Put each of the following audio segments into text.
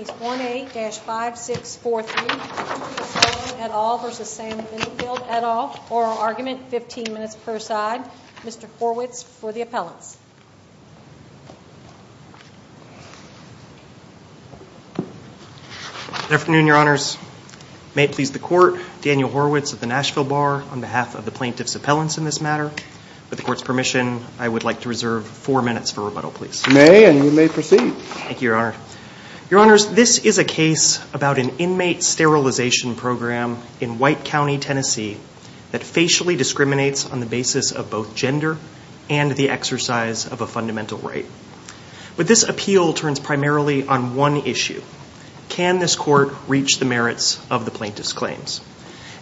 et al., oral argument, 15 minutes per side. Mr. Horwitz, for the appellants. Good afternoon, Your Honors. May it please the Court, Daniel Horwitz of the Nashville Bar on behalf of the plaintiff's appellants in this matter. With the Court's permission, I would like to reserve four minutes for rebuttal, please. You may, and you may proceed. Thank you, Your Honor. Your Honors, this is a case about an inmate sterilization program in White County, Tennessee, that facially discriminates on the basis of both gender and the exercise of a fundamental right. But this appeal turns primarily on one issue. Can this Court reach the merits of the plaintiff's claims?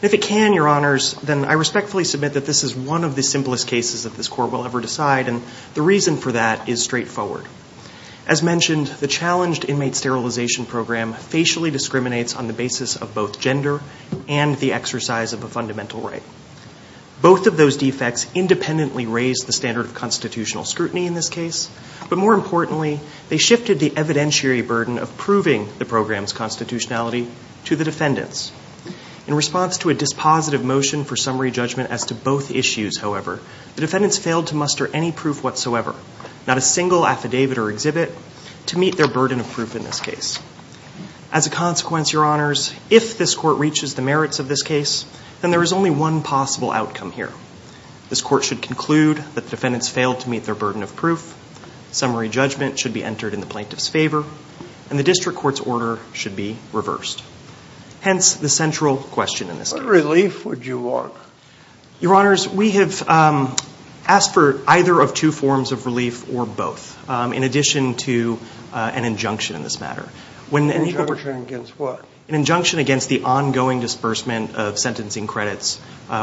If it can, Your Honors, then I respectfully submit that this is one of the simplest cases that this Court will ever decide, and the reason for that is straightforward. As mentioned, the challenged inmate sterilization program facially discriminates on the basis of both gender and the exercise of a fundamental right. Both of those defects independently raise the standard of constitutional scrutiny in this case, but more importantly, they shifted the evidentiary burden of proving the program's constitutionality to the defendants. In response to a dispositive motion for summary judgment as to both issues, however, the defendants failed to muster any proof whatsoever, not a single affidavit or exhibit, to meet their burden of proof in this case. As a consequence, Your Honors, if this Court reaches the merits of this case, then there is only one possible outcome here. This Court should conclude that the defendants failed to meet their burden of proof, summary judgment should be entered in the plaintiff's favor, and the district court's order should be reversed. Hence, the central question in this case. What relief would you want? Your Honors, we have asked for either of two forms of relief, or both, in addition to an injunction in this matter. An injunction against what? An injunction against the ongoing disbursement of sentencing credits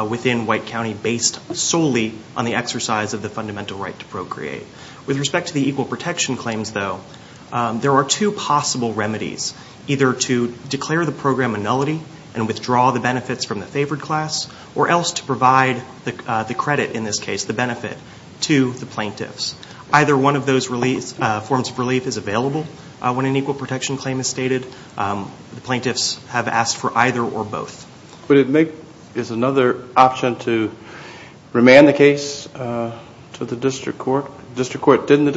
within White County based solely on the exercise of the fundamental right to procreate. With respect to the equal protection claims, though, there are two possible remedies, either to declare the program a nullity and withdraw the benefits from the favored class, or else to provide the credit in this case, the benefit, to the plaintiffs. Either one of those forms of relief is available when an equal protection claim is stated. The plaintiffs have asked for either or both. Would it make, is another option to remand the case to the district court? Didn't the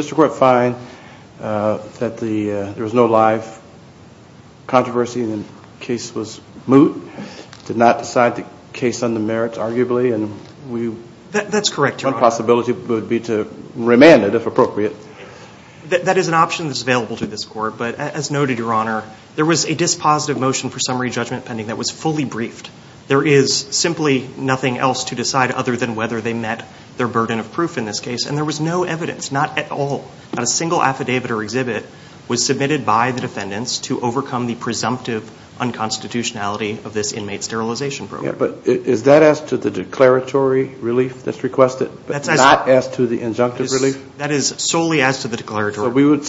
plaintiffs move to not decide the case on the merits, arguably? That's correct, Your Honor. One possibility would be to remand it, if appropriate. That is an option that's available to this court, but as noted, Your Honor, there was a dispositive motion for summary judgment pending that was fully briefed. There is simply nothing else to decide other than whether they met their burden of proof in this case, and there was no evidence, not at all. Not a single affidavit or exhibit was submitted by the defendants to overcome the presumptive unconstitutionality of this inmate sterilization program. Yeah, but is that as to the declaratory relief that's requested, but not as to the injunctive relief? That is solely as to the declaratory. So we would,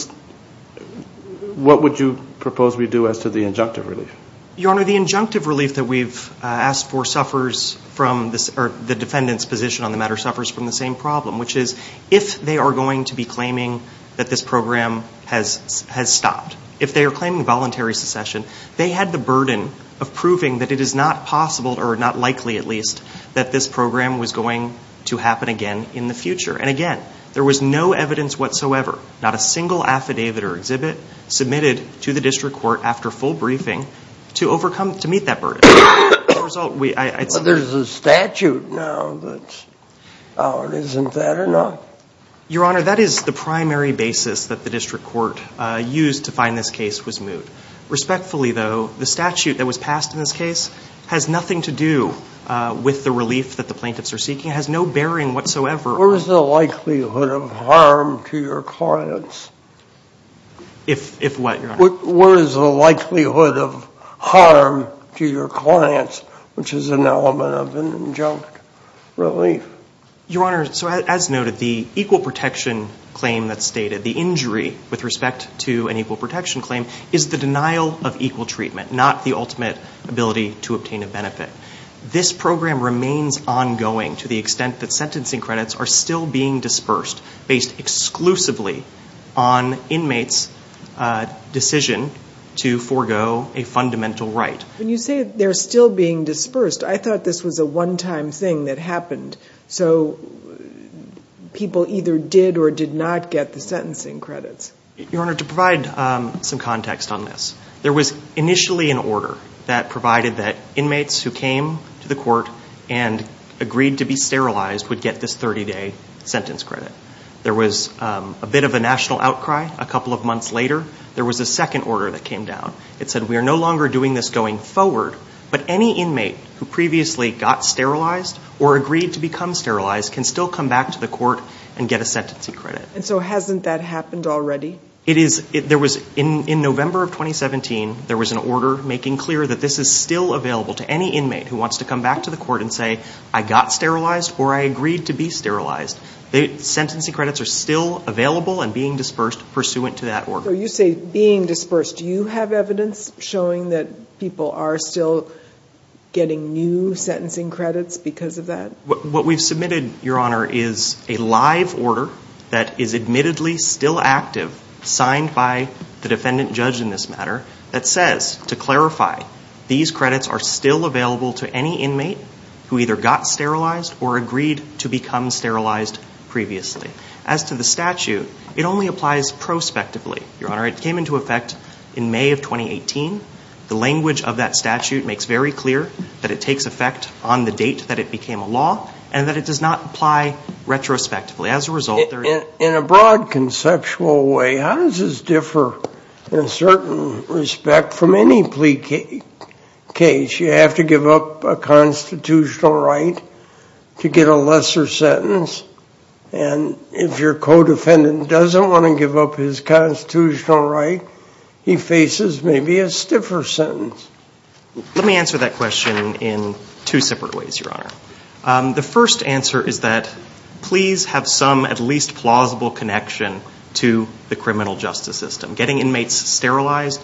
what would you propose we do as to the injunctive relief? Your Honor, the injunctive relief that we've asked for suffers from this, or the defendant's position on the matter suffers from the same problem, which is, if they are going to be stopped, if they are claiming voluntary secession, they had the burden of proving that it is not possible, or not likely at least, that this program was going to happen again in the future. And again, there was no evidence whatsoever, not a single affidavit or exhibit submitted to the district court after full briefing to overcome, to meet that burden. As a result, we, I Well, there's a statute now that's out. Isn't that enough? Your Honor, that is the primary basis that the district court used to find this case was moot. Respectfully, though, the statute that was passed in this case has nothing to do with the relief that the plaintiffs are seeking. It has no bearing whatsoever Where is the likelihood of harm to your clients? If what, Your Honor? Where is the likelihood of harm to your clients, which is an element of an injunct relief? Your Honor, so as noted, the equal protection claim that's stated, the injury with respect to an equal protection claim, is the denial of equal treatment, not the ultimate ability to obtain a benefit. This program remains ongoing to the extent that sentencing credits are still being dispersed based exclusively on inmates' decision to forego a fundamental right. When you say they're still being dispersed, I thought this was a one-time thing that happened so people either did or did not get the sentencing credits. Your Honor, to provide some context on this, there was initially an order that provided that inmates who came to the court and agreed to be sterilized would get this 30-day sentence credit. There was a bit of a national outcry a couple of months later. There was a second order that came down. It said we are no longer doing this going forward, but any inmate who becomes sterilized can still come back to the court and get a sentencing credit. And so hasn't that happened already? In November of 2017, there was an order making clear that this is still available to any inmate who wants to come back to the court and say, I got sterilized or I agreed to be sterilized. The sentencing credits are still available and being dispersed pursuant to that order. So you say being dispersed. Do you have evidence showing that people are still getting new sentencing credits because of that? What we've submitted, Your Honor, is a live order that is admittedly still active, signed by the defendant judge in this matter, that says, to clarify, these credits are still available to any inmate who either got sterilized or agreed to become sterilized previously. As to the statute, it only applies prospectively, Your Honor. It came into effect in May of 2018. The language of that statute makes very clear that it takes effect on the date that it became a law and that it does not apply retrospectively. As a result, there is... In a broad conceptual way, how does this differ in a certain respect from any plea case? You have to give up a constitutional right to get a lesser sentence. And if your co-defendant doesn't want to give up his constitutional right, he faces maybe a stiffer sentence. Let me answer that question in two separate ways, Your Honor. The first answer is that pleas have some at least plausible connection to the criminal justice system. Getting inmates sterilized,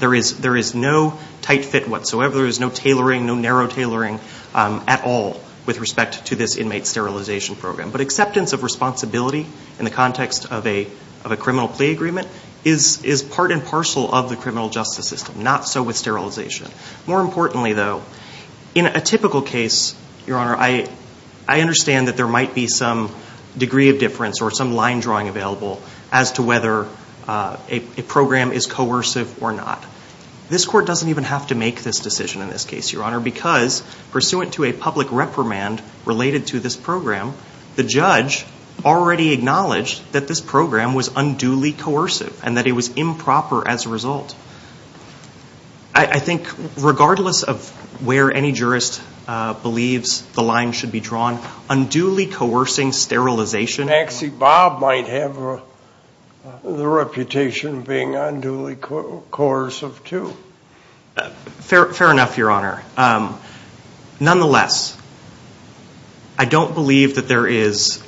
there is no tight fit whatsoever. There is no tailoring, no narrow tailoring at all with respect to this inmate sterilization program. But acceptance of responsibility in the context of a criminal plea agreement is part and parcel of the criminal justice system, not so with sterilization. More importantly, though, in a typical case, Your Honor, I understand that there might be some degree of difference or some line drawing available as to whether a program is coercive or not. This court doesn't even have to make this decision in this case, Your Honor, because pursuant to a public reprimand related to this program, the judge already acknowledged that this program was unduly coercive and that it was improper as a result. I think regardless of where any jurist believes the line should be drawn, unduly coercing sterilization... Taxi Bob might have the reputation of being unduly coercive, too. Fair enough, Your Honor. Nonetheless, I don't believe that there is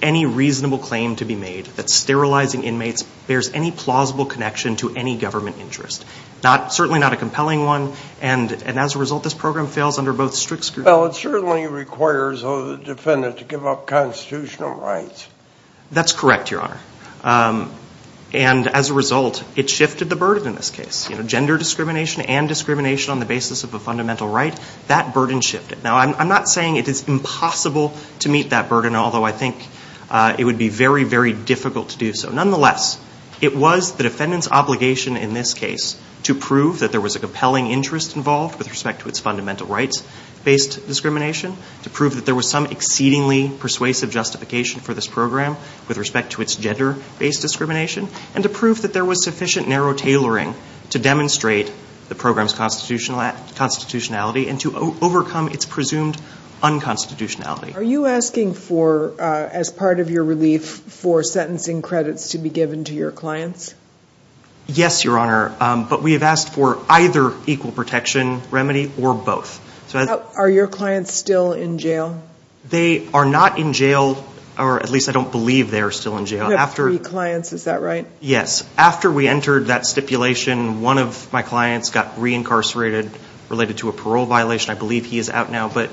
any reasonable claim to be made that sterilizing inmates bears any plausible connection to any government interest. Certainly not a compelling one, and as a result, this program fails under both strict scrutiny... Well, it certainly requires the defendant to give up constitutional rights. That's correct, Your Honor, and as a result, it shifted the burden in this case. Gender discrimination and discrimination on the basis of a fundamental right, that burden shifted. Now, I'm not saying it is impossible to meet that burden, although I think it would be very, very difficult to do so. Nonetheless, it was the defendant's obligation in this case to prove that there was a compelling interest involved with respect to its fundamental rights-based discrimination, to prove that there was some exceedingly persuasive justification for this program with respect to its gender-based discrimination, and to prove that there was sufficient narrow tailoring to demonstrate the program's constitutionality and to overcome its presumed unconstitutionality. Are you asking for, as part of your relief, for sentencing credits to be given to your clients? Yes, Your Honor, but we have asked for either equal protection remedy or both. Are your clients still in jail? They are not in jail, or at least I don't believe they are still in jail. You have three clients, is that right? Yes. After we entered that stipulation, one of my clients got re-incarcerated related to a parole violation. I believe he is out now, but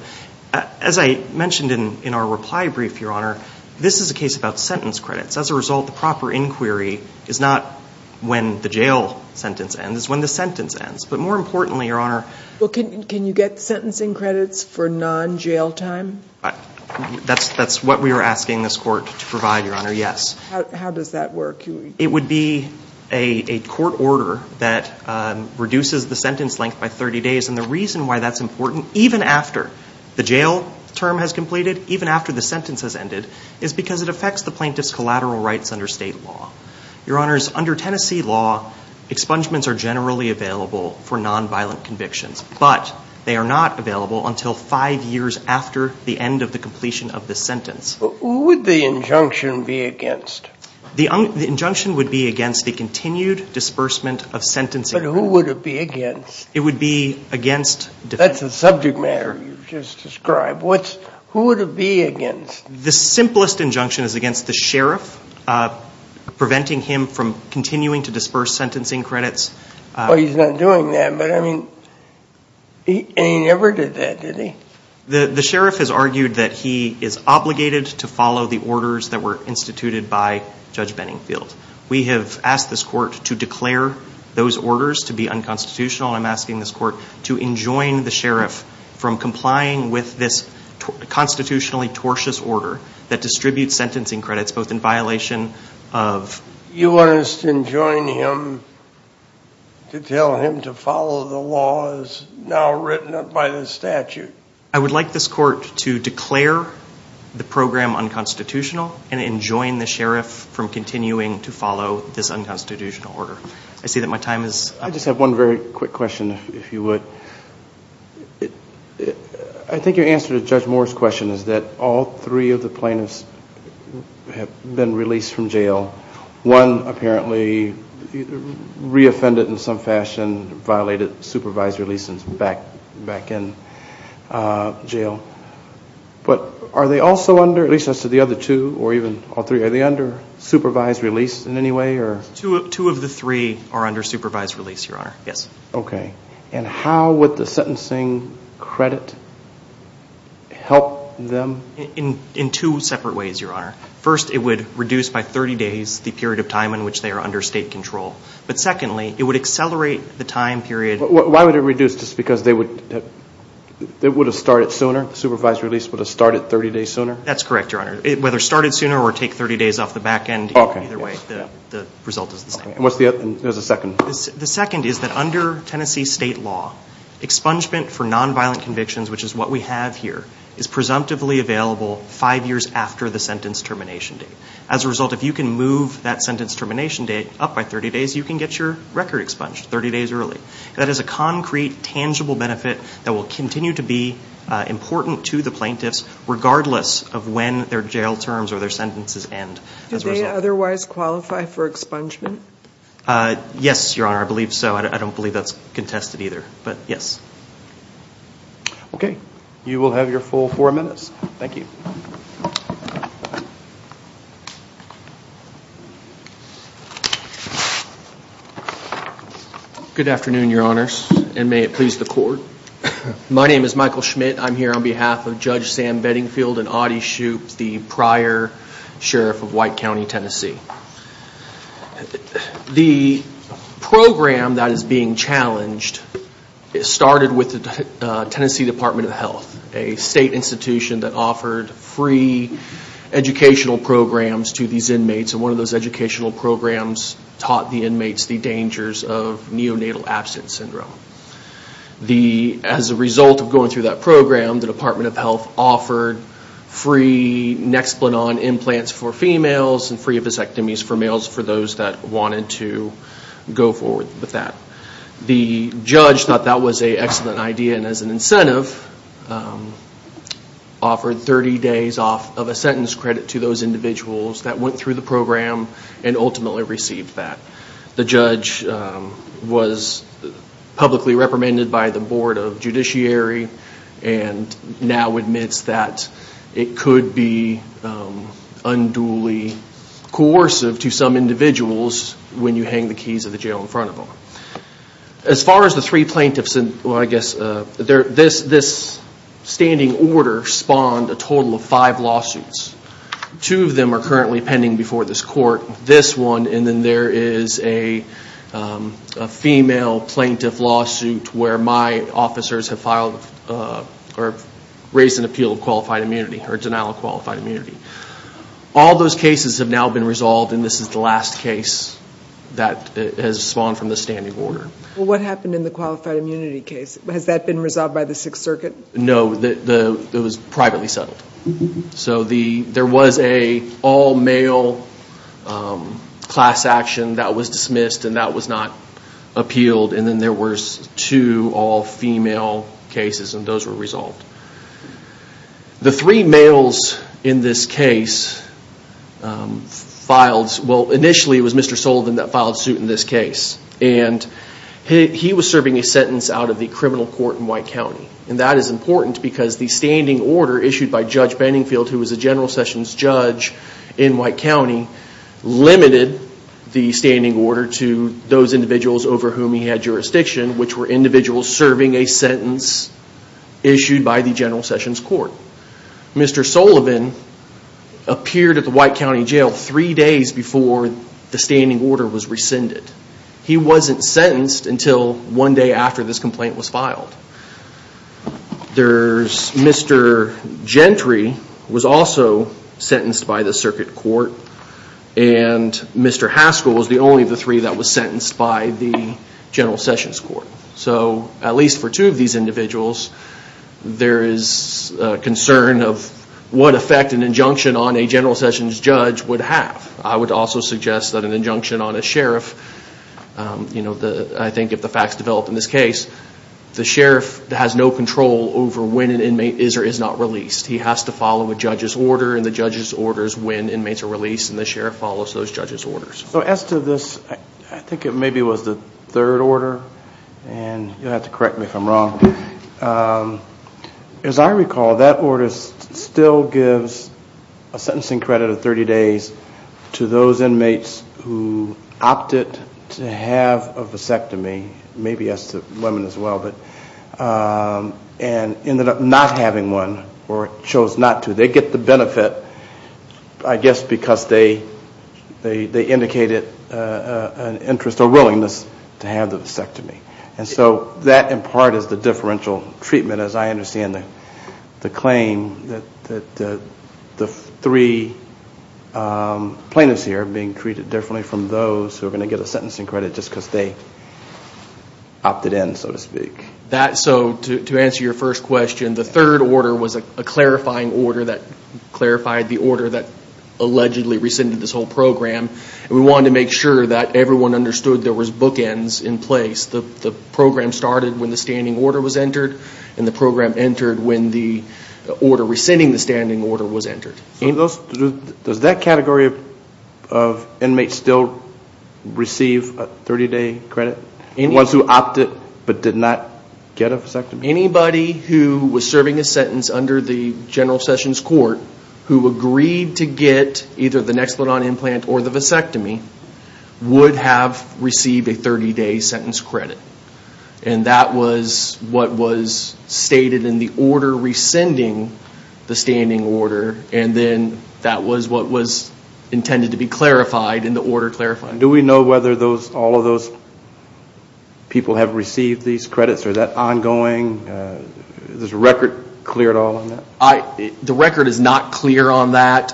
as I mentioned in our reply brief, Your Honor, this is a case about sentence credits. As a result, the proper inquiry is not when the jail sentence ends, it's when the sentence ends. But more importantly, Your Honor... Can you get sentencing credits for non-jail time? That's what we are asking this court to provide, Your Honor, yes. How does that work? It would be a court order that reduces the sentence length by 30 days, and the reason why that's important, even after the jail term has completed, even after the sentence has ended, is because it affects the plaintiff's collateral rights under state law. Your Honors, under Tennessee law, expungements are generally available for non-violent convictions, but they are not available until five years after the end of the completion of the sentence. Who would the injunction be against? The injunction would be against the continued disbursement of sentencing... But who would it be against? It would be against... That's a subject matter you just described. Who would it be against? The simplest injunction is against the sheriff, preventing him from continuing to disburse sentencing credits. Well, he's not doing that, but I mean, he never did that, did he? The sheriff has argued that he is obligated to follow the orders that were instituted by Judge Benningfield. We have asked this court to declare those orders to be unconstitutional, and I'm asking this court to enjoin the sheriff from complying with this constitutionally tortious order that distributes sentencing credits, both in violation of... You want us to enjoin him to tell him to follow the laws now written up by the statute? I would like this court to declare the program unconstitutional and enjoin the sheriff from continuing to follow this unconstitutional order. I see that my time is... I just have one very quick question, if you would. I think your answer to Judge Moore's question is that all three of the plaintiffs have been released from jail. One apparently re-offended in some fashion, violated supervised release and is back in jail. But are they also under, at least as to the other two, or even all three, are they under supervised release in any way? Two of the three are under supervised release, Your Honor, yes. Okay. And how would the sentencing credit help them? In two separate ways, Your Honor. First, it would reduce by 30 days the period of time in which they are under state control. But secondly, it would accelerate the time period... Why would it reduce? Just because they would have started sooner? Supervised release would have started 30 days sooner? That's correct, Your Honor. Whether it started sooner or take 30 days off the back end, either way, the result is the same. And what's the other? There's a second. The second is that under Tennessee state law, expungement for nonviolent convictions, which is what we have here, is presumptively available five years after the sentence termination date. As a result, if you can move that sentence termination date up by 30 days, you can get your record expunged 30 days early. That is a concrete, tangible benefit that will continue to be important to the plaintiffs regardless of when their jail terms or their sentences end as a result. Do they otherwise qualify for expungement? Yes, Your Honor. I believe so. I don't believe that's contested either, but yes. Okay. You will have your full four minutes. Thank you. Good afternoon, Your Honors, and may it please the Court. My name is Michael Schmidt. I'm here on behalf of Judge Sam Beddingfield and Audie Shoup, the prior sheriff of White County, Tennessee. The program that is being challenged started with the Tennessee Department of Health, a state institution that offered free educational programs to these inmates. One of those educational programs taught the inmates the dangers of neonatal absence syndrome. As a result of going through that program, the Department of Health offered free Nexplanon implants for females and free vasectomies for males for those that wanted to go forward with that. The judge thought that was an excellent idea and as an incentive, offered 30 days off of a sentence credit to those individuals that went through the program and ultimately received that. The judge was publicly reprimanded by the Board of Judiciary and now admits that it could be unduly coercive to some individuals when you hang the keys of the jail in front of them. As far as the three plaintiffs, this standing order spawned a total of five lawsuits. Two of them are currently pending before this Court. This one and then there is a female plaintiff lawsuit where my officers have filed or raised an appeal of qualified immunity or denial of qualified immunity. All those cases have now been resolved and this is the last case that has spawned from the standing order. What happened in the qualified immunity case? Has that been resolved by the Sixth Circuit? No, it was privately settled. There was an all-male class action that was dismissed and that was not appealed and then there were two all-female cases and those were resolved. The three males in this case, initially it was Mr. Sullivan that filed suit in this case. He was serving a sentence out of the criminal court in White County and that is important because the standing order issued by Judge Banningfield, who was a General Sessions judge in White County, limited the standing order to those individuals over whom he had jurisdiction which were individuals serving a sentence issued by the General Sessions Court. Mr. Sullivan appeared at the White County Jail three days before the standing order was rescinded. He wasn't sentenced until one day after this complaint was filed. Mr. Gentry was also sentenced by the Circuit Court and Mr. Haskell was the only of the three that was sentenced by the General Sessions Court. So, at least for two of these individuals, there is concern of what effect an injunction on a General Sessions judge would have. I would also suggest that an injunction on a sheriff, I think if the facts develop in this case, the sheriff has no control over when an inmate is or is not released. He has to follow a judge's order and the judge's order is when inmates are released and the sheriff follows those judge's orders. So, as to this, I think it maybe was the third order and you'll have to correct me if I'm wrong. As I recall, that order still gives a sentencing credit of 30 days to those inmates who opted to have a vasectomy, maybe as to women as well, and ended up not having one or chose not to. They get the benefit, I guess, because they indicated an interest or willingness to have the vasectomy. And so, that in part is the differential treatment as I understand the claim that the three plaintiffs here are being treated differently from those who are going to get a sentencing credit just because they opted in, so to speak. So, to answer your first question, the third order was a clarifying order that clarified the order that allegedly rescinded this whole program. We wanted to make sure that everyone understood there was bookends in place. The program started when the standing order was entered and the program entered when the order rescinding the standing order was entered. Does that category of inmates still receive a 30-day credit? The ones who opted but did not get a vasectomy? Anybody who was serving a sentence under the General Sessions Court who agreed to get either the Nexplodon implant or the vasectomy would have received a 30-day sentence credit. And that was what was stated in the order rescinding the standing order and then that was what was intended to be clarified in the order clarifying. Do we know whether all of those people have received these credits? Are they ongoing? Is the record clear at all? The record is not clear on that.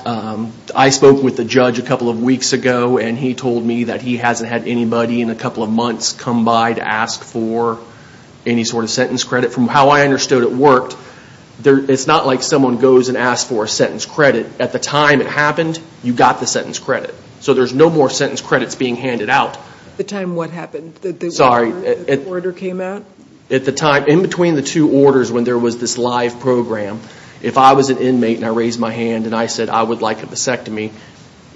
I spoke with the judge a couple of weeks ago and he told me that he hasn't had anybody in a couple of months come by to ask for any sort of sentence credit. From how I understood it worked, it's not like someone goes and asks for a sentence credit. At the time it happened, you got the sentence credit. So there's no more sentence credits being handed out. The time what happened? Sorry. The order came out? At the time, in between the two orders when there was this live program, if I was an inmate and I raised my hand and I said I would like a vasectomy,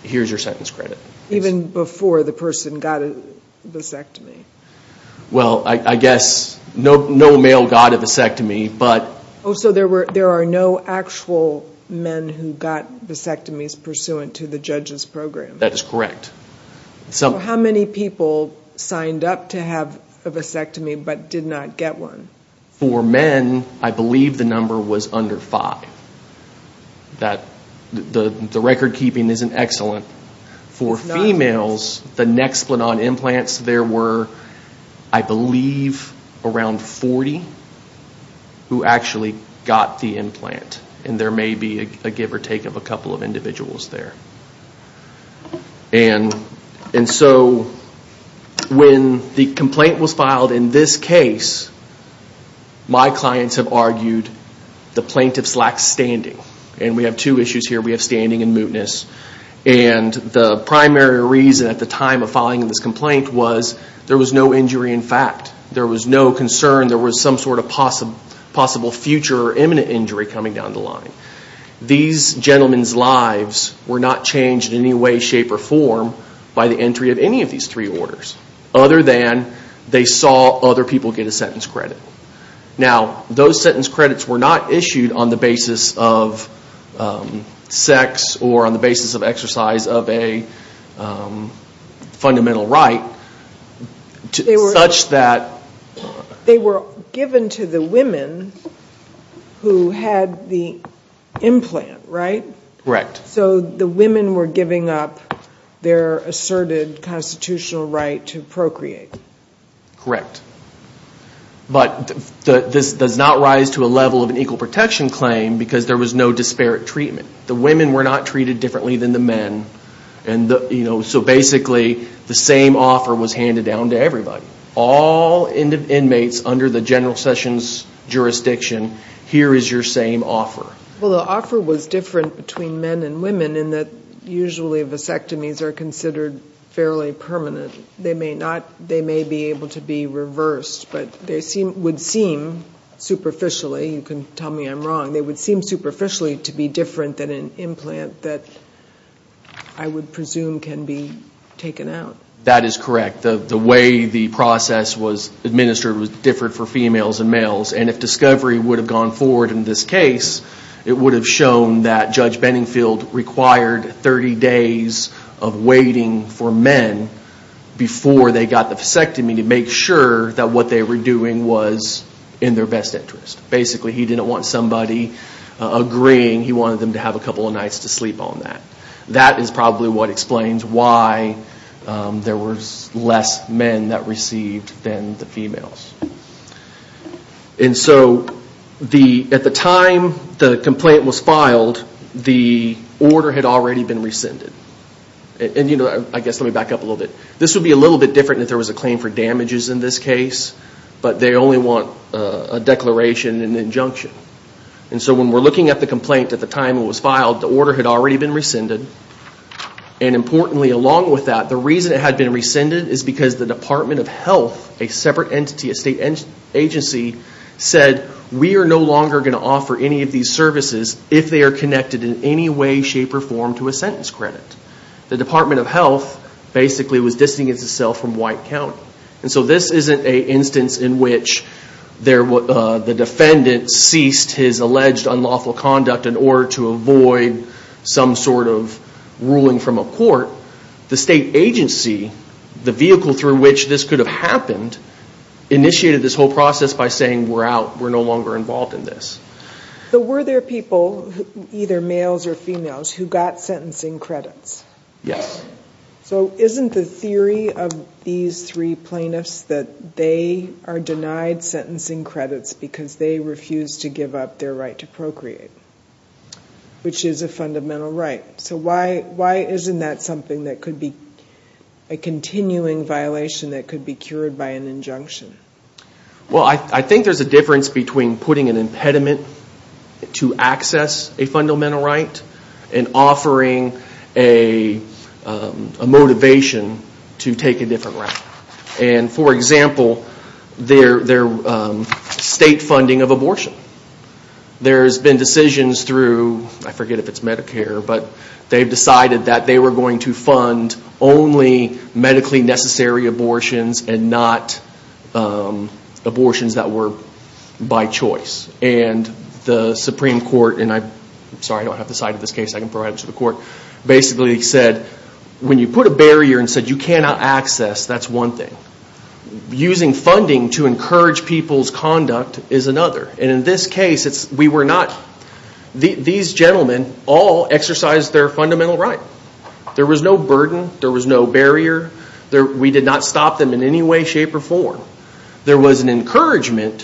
here's your sentence credit. Even before the person got a vasectomy? Well, I guess no male got a vasectomy. Oh, so there are no actual men who got vasectomies pursuant to the judge's program? That is correct. How many people signed up to have a vasectomy but did not get one? For men, I believe the number was under five. The record-keeping isn't excellent. For females, the nexplanon implants, there were, I believe, around 40 who actually got the implant. And there may be a give or take of a couple of individuals there. And so when the complaint was filed in this case, my clients have argued the plaintiffs lacked standing. And we have two issues here. We have standing and mootness. And the primary reason at the time of filing this complaint was there was no injury in fact. There was no concern there was some sort of possible future or imminent injury coming down the line. These gentlemen's lives were not changed in any way, shape, or form by the entry of any of these three orders other than they saw other people get a sentence credit. Now, those sentence credits were not issued on the basis of sex or on the basis of exercise of a fundamental right such that. They were given to the women who had the implant, right? Correct. So the women were giving up their asserted constitutional right to procreate. Correct. But this does not rise to a level of an equal protection claim because there was no disparate treatment. The women were not treated differently than the men. So basically, the same offer was handed down to everybody. All inmates under the General Sessions jurisdiction, here is your same offer. Well, the offer was different between men and women in that usually vasectomies are considered fairly permanent. They may be able to be reversed, but they would seem superficially, you can tell me I'm wrong, they would seem superficially to be different than an implant that I would presume can be taken out. That is correct. The way the process was administered was different for females and males. If discovery would have gone forward in this case, it would have shown that Judge Benningfield required 30 days of waiting for men before they got the vasectomy to make sure that what they were doing was in their best interest. Basically, he didn't want somebody agreeing. He wanted them to have a couple of nights to sleep on that. That is probably what explains why there were less men that received than the females. At the time the complaint was filed, the order had already been rescinded. Let me back up a little bit. This would be a little bit different if there was a claim for damages in this case, When we're looking at the complaint at the time it was filed, the order had already been rescinded. Importantly, along with that, the reason it had been rescinded is because the Department of Health, a separate entity, a state agency, said we are no longer going to offer any of these services if they are connected in any way, shape, or form to a sentence credit. The Department of Health basically was distinguished itself from White County. This isn't an instance in which the defendant ceased his alleged unlawful conduct in order to avoid some sort of ruling from a court. The state agency, the vehicle through which this could have happened, initiated this whole process by saying we're out, we're no longer involved in this. Were there people, either males or females, who got sentencing credits? Yes. Isn't the theory of these three plaintiffs that they are denied sentencing credits because they refused to give up their right to procreate, which is a fundamental right? Why isn't that something that could be a continuing violation that could be cured by an injunction? I think there's a difference between putting an impediment to access a fundamental right and offering a motivation to take a different route. For example, their state funding of abortion. There's been decisions through, I forget if it's Medicare, but they've decided that they were going to fund only medically necessary abortions and not abortions that were by choice. The Supreme Court, and I'm sorry I don't have the site of this case, I can provide it to the court, basically said when you put a barrier and said you cannot access, that's one thing. Using funding to encourage people's conduct is another. In this case, these gentlemen all exercised their fundamental right. There was no burden. There was no barrier. We did not stop them in any way, shape, or form. There was an encouragement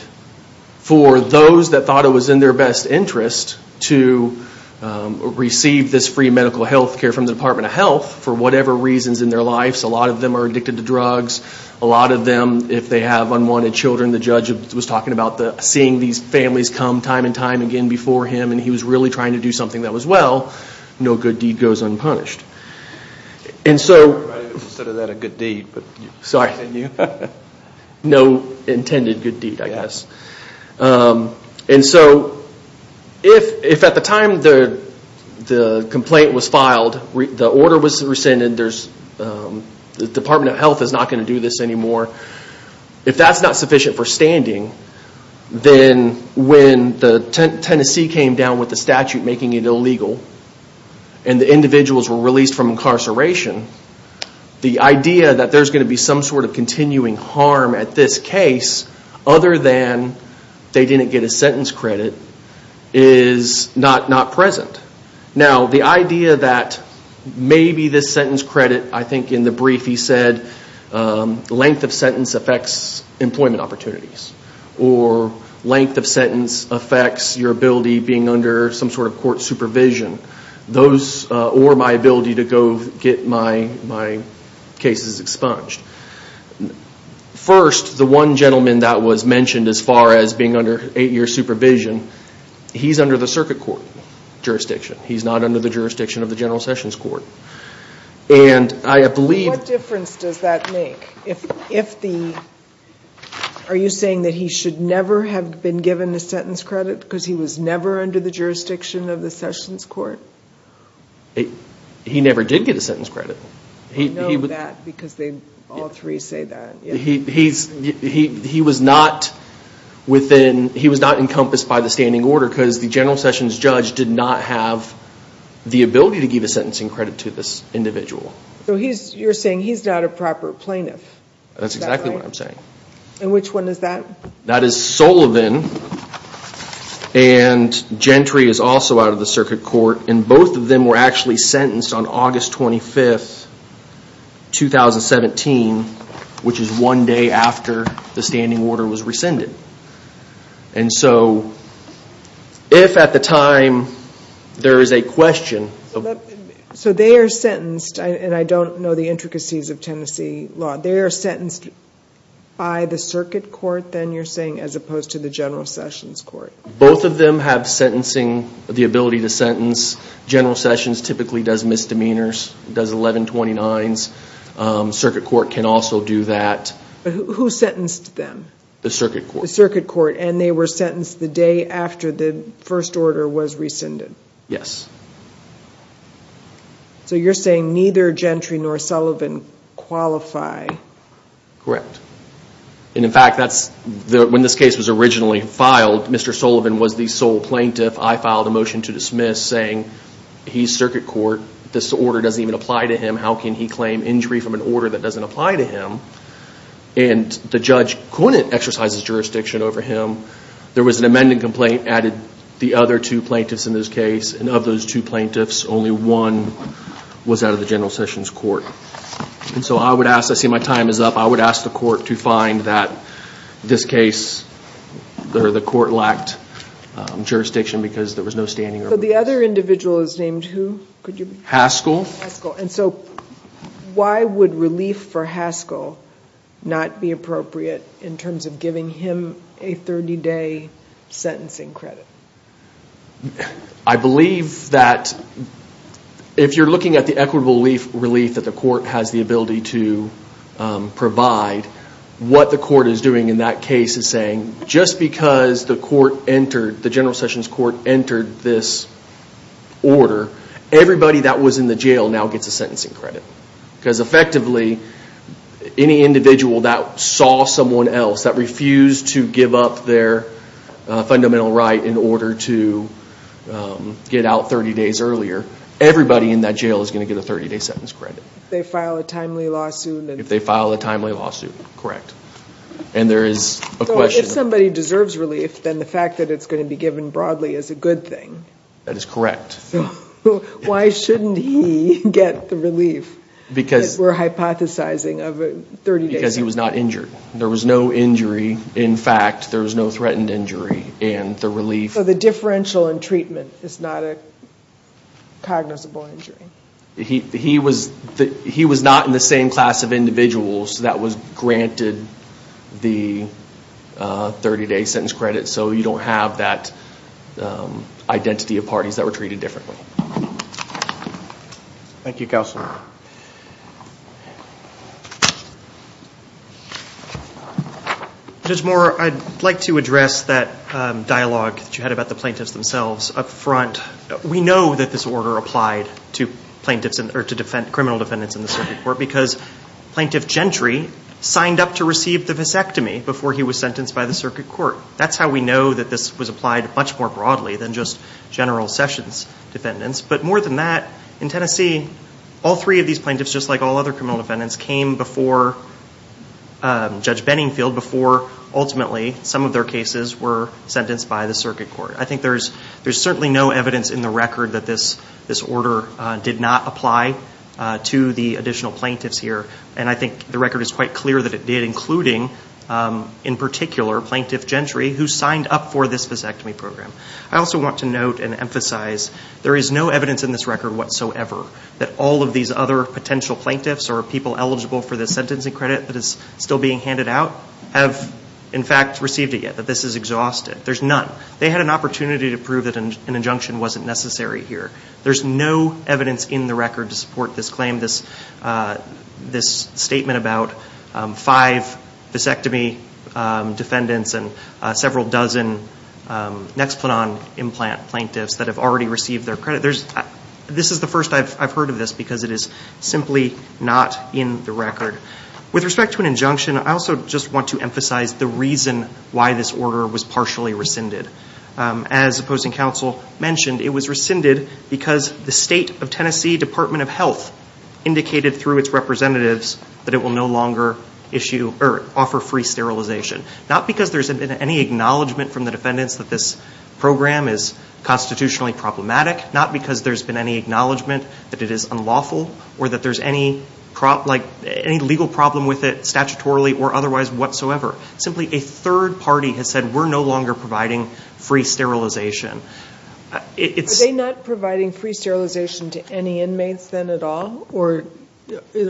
for those that thought it was in their best interest to receive this free medical health care from the Department of Health for whatever reasons in their lives. A lot of them are addicted to drugs. A lot of them, if they have unwanted children, the judge was talking about seeing these families come time and time again before him, and he was really trying to do something that was well. No good deed goes unpunished. I didn't consider that a good deed. Sorry. No intended good deed, I guess. If at the time the complaint was filed, the order was rescinded, the Department of Health is not going to do this anymore, if that's not sufficient for standing, then when Tennessee came down with the statute making it illegal, and the individuals were released from incarceration, the idea that there's going to be some sort of continuing harm at this case, other than they didn't get a sentence credit, is not present. Now, the idea that maybe this sentence credit, I think in the brief he said, length of sentence affects employment opportunities, or length of sentence affects your ability being under some sort of court supervision, or my ability to go get my cases expunged. First, the one gentleman that was mentioned as far as being under eight-year supervision, he's under the circuit court jurisdiction. He's not under the jurisdiction of the General Sessions Court. What difference does that make? Are you saying that he should never have been given a sentence credit, because he was never under the jurisdiction of the Sessions Court? He never did get a sentence credit. I know that, because all three say that. He was not encompassed by the standing order, because the General Sessions judge did not have the ability to give a sentencing credit to this individual. You're saying he's not a proper plaintiff. That's exactly what I'm saying. Which one is that? That is Sullivan, and Gentry is also out of the circuit court. Both of them were actually sentenced on August 25th, 2017, which is one day after the standing order was rescinded. And so, if at the time there is a question... So they are sentenced, and I don't know the intricacies of Tennessee law, they are sentenced by the circuit court, then, you're saying, as opposed to the General Sessions Court? Both of them have sentencing, the ability to sentence. General Sessions typically does misdemeanors, does 1129s. Circuit court can also do that. Who sentenced them? The circuit court. The circuit court, and they were sentenced the day after the first order was rescinded. Yes. So you're saying neither Gentry nor Sullivan qualify. Correct. And in fact, when this case was originally filed, Mr. Sullivan was the sole plaintiff. I filed a motion to dismiss saying, he's circuit court, this order doesn't even apply to him, how can he claim injury from an order that doesn't apply to him? And the judge couldn't exercise his jurisdiction over him. There was an amended complaint added the other two plaintiffs in this case, and of those two plaintiffs, only one was out of the General Sessions Court. And so I would ask, I see my time is up, I would ask the court to find that this case, the court lacked jurisdiction because there was no standing order. So the other individual is named who? Haskell. Haskell. And so why would relief for Haskell not be appropriate in terms of giving him a 30-day sentencing credit? I believe that if you're looking at the equitable relief that the court has the ability to provide, what the court is doing in that case is saying, just because the court entered, the General Sessions Court entered this order, everybody that was in the jail now gets a sentencing credit. Because effectively, any individual that saw someone else, that refused to give up their fundamental right in order to get out 30 days earlier, everybody in that jail is going to get a 30-day sentence credit. If they file a timely lawsuit. If they file a timely lawsuit, correct. And there is a question. If somebody deserves relief, then the fact that it's going to be given broadly is a good thing. That is correct. Why shouldn't he get the relief that we're hypothesizing of a 30-day sentence? Because he was not injured. There was no injury. In fact, there was no threatened injury in the relief. So the differential in treatment is not a cognizable injury. He was not in the same class of individuals that was granted the 30-day sentence credit, so you don't have that identity of parties that were treated differently. Thank you, Counselor. Judge Moore, I'd like to address that dialogue that you had about the plaintiffs themselves up front. We know that this order applied to plaintiffs or to criminal defendants in the circuit court because Plaintiff Gentry signed up to receive the vasectomy before he was sentenced by the circuit court. That's how we know that this was applied much more broadly than just General Sessions defendants. But more than that, in Tennessee, all three of these plaintiffs, just like all other criminal defendants, came before Judge Benningfield before ultimately some of their cases were sentenced by the circuit court. I think there's certainly no evidence in the record that this order did not apply to the additional plaintiffs here, and I think the record is quite clear that it did, including, in particular, Plaintiff Gentry, who signed up for this vasectomy program. I also want to note and emphasize there is no evidence in this record whatsoever that all of these other potential plaintiffs or people eligible for the sentencing credit that is still being handed out have, in fact, received it yet, that this is exhausted. There's none. They had an opportunity to prove that an injunction wasn't necessary here. There's no evidence in the record to support this claim, this statement about five vasectomy defendants and several dozen Nexplanon implant plaintiffs that have already received their credit. This is the first I've heard of this because it is simply not in the record. With respect to an injunction, I also just want to emphasize the reason why this order was partially rescinded. As opposing counsel mentioned, it was rescinded because the State of Tennessee Department of Health indicated through its representatives that it will no longer issue or offer free sterilization, not because there's been any acknowledgment from the defendants that this program is constitutionally problematic, not because there's been any acknowledgment that it is unlawful or that there's any legal problem with it statutorily or otherwise whatsoever. Simply, a third party has said we're no longer providing free sterilization. Are they not providing free sterilization to any inmates then at all, or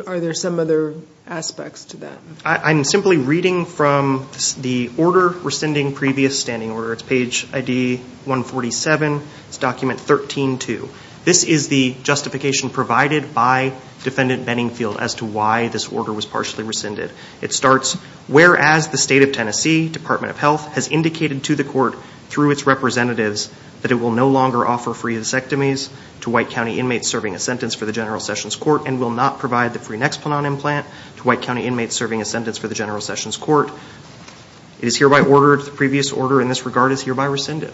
are there some other aspects to that? I'm simply reading from the order rescinding previous standing order. It's page ID 147. It's document 13-2. This is the justification provided by Defendant Benningfield as to why this order was partially rescinded. It starts, whereas the State of Tennessee Department of Health has indicated to the court through its representatives that it will no longer offer free mastectomies to white county inmates serving a sentence for the General Sessions Court and will not provide the free Nexplanon implant to white county inmates serving a sentence for the General Sessions Court. It is hereby ordered the previous order in this regard is hereby rescinded.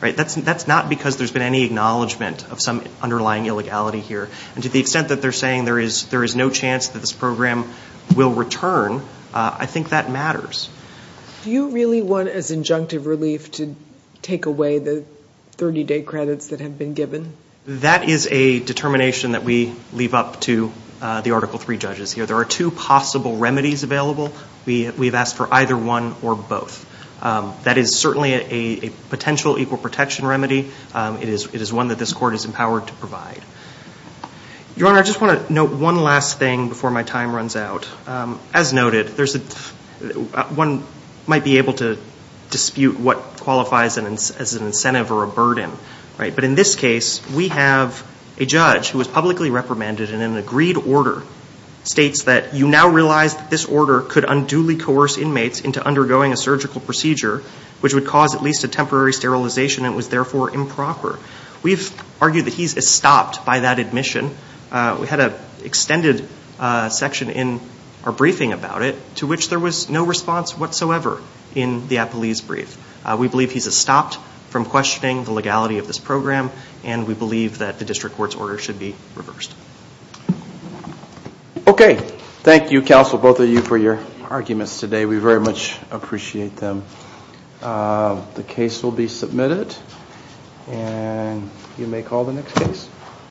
That's not because there's been any acknowledgment of some underlying illegality here. And to the extent that they're saying there is no chance that this program will return, I think that matters. Do you really want as injunctive relief to take away the 30-day credits that have been given? That is a determination that we leave up to the Article III judges here. There are two possible remedies available. We have asked for either one or both. That is certainly a potential equal protection remedy. It is one that this court is empowered to provide. Your Honor, I just want to note one last thing before my time runs out. As noted, one might be able to dispute what qualifies as an incentive or a burden. But in this case, we have a judge who was publicly reprimanded and in an agreed order states that you now realize that this order could unduly coerce inmates into undergoing a surgical procedure which would cause at least a temporary sterilization and was therefore improper. We've argued that he's estopped by that admission. We had an extended section in our briefing about it to which there was no response whatsoever in the Apeliz brief. We believe he's estopped from questioning the legality of this program and we believe that the district court's order should be reversed. Okay. Thank you, counsel, both of you for your arguments today. We very much appreciate them. The case will be submitted and you may call the next case.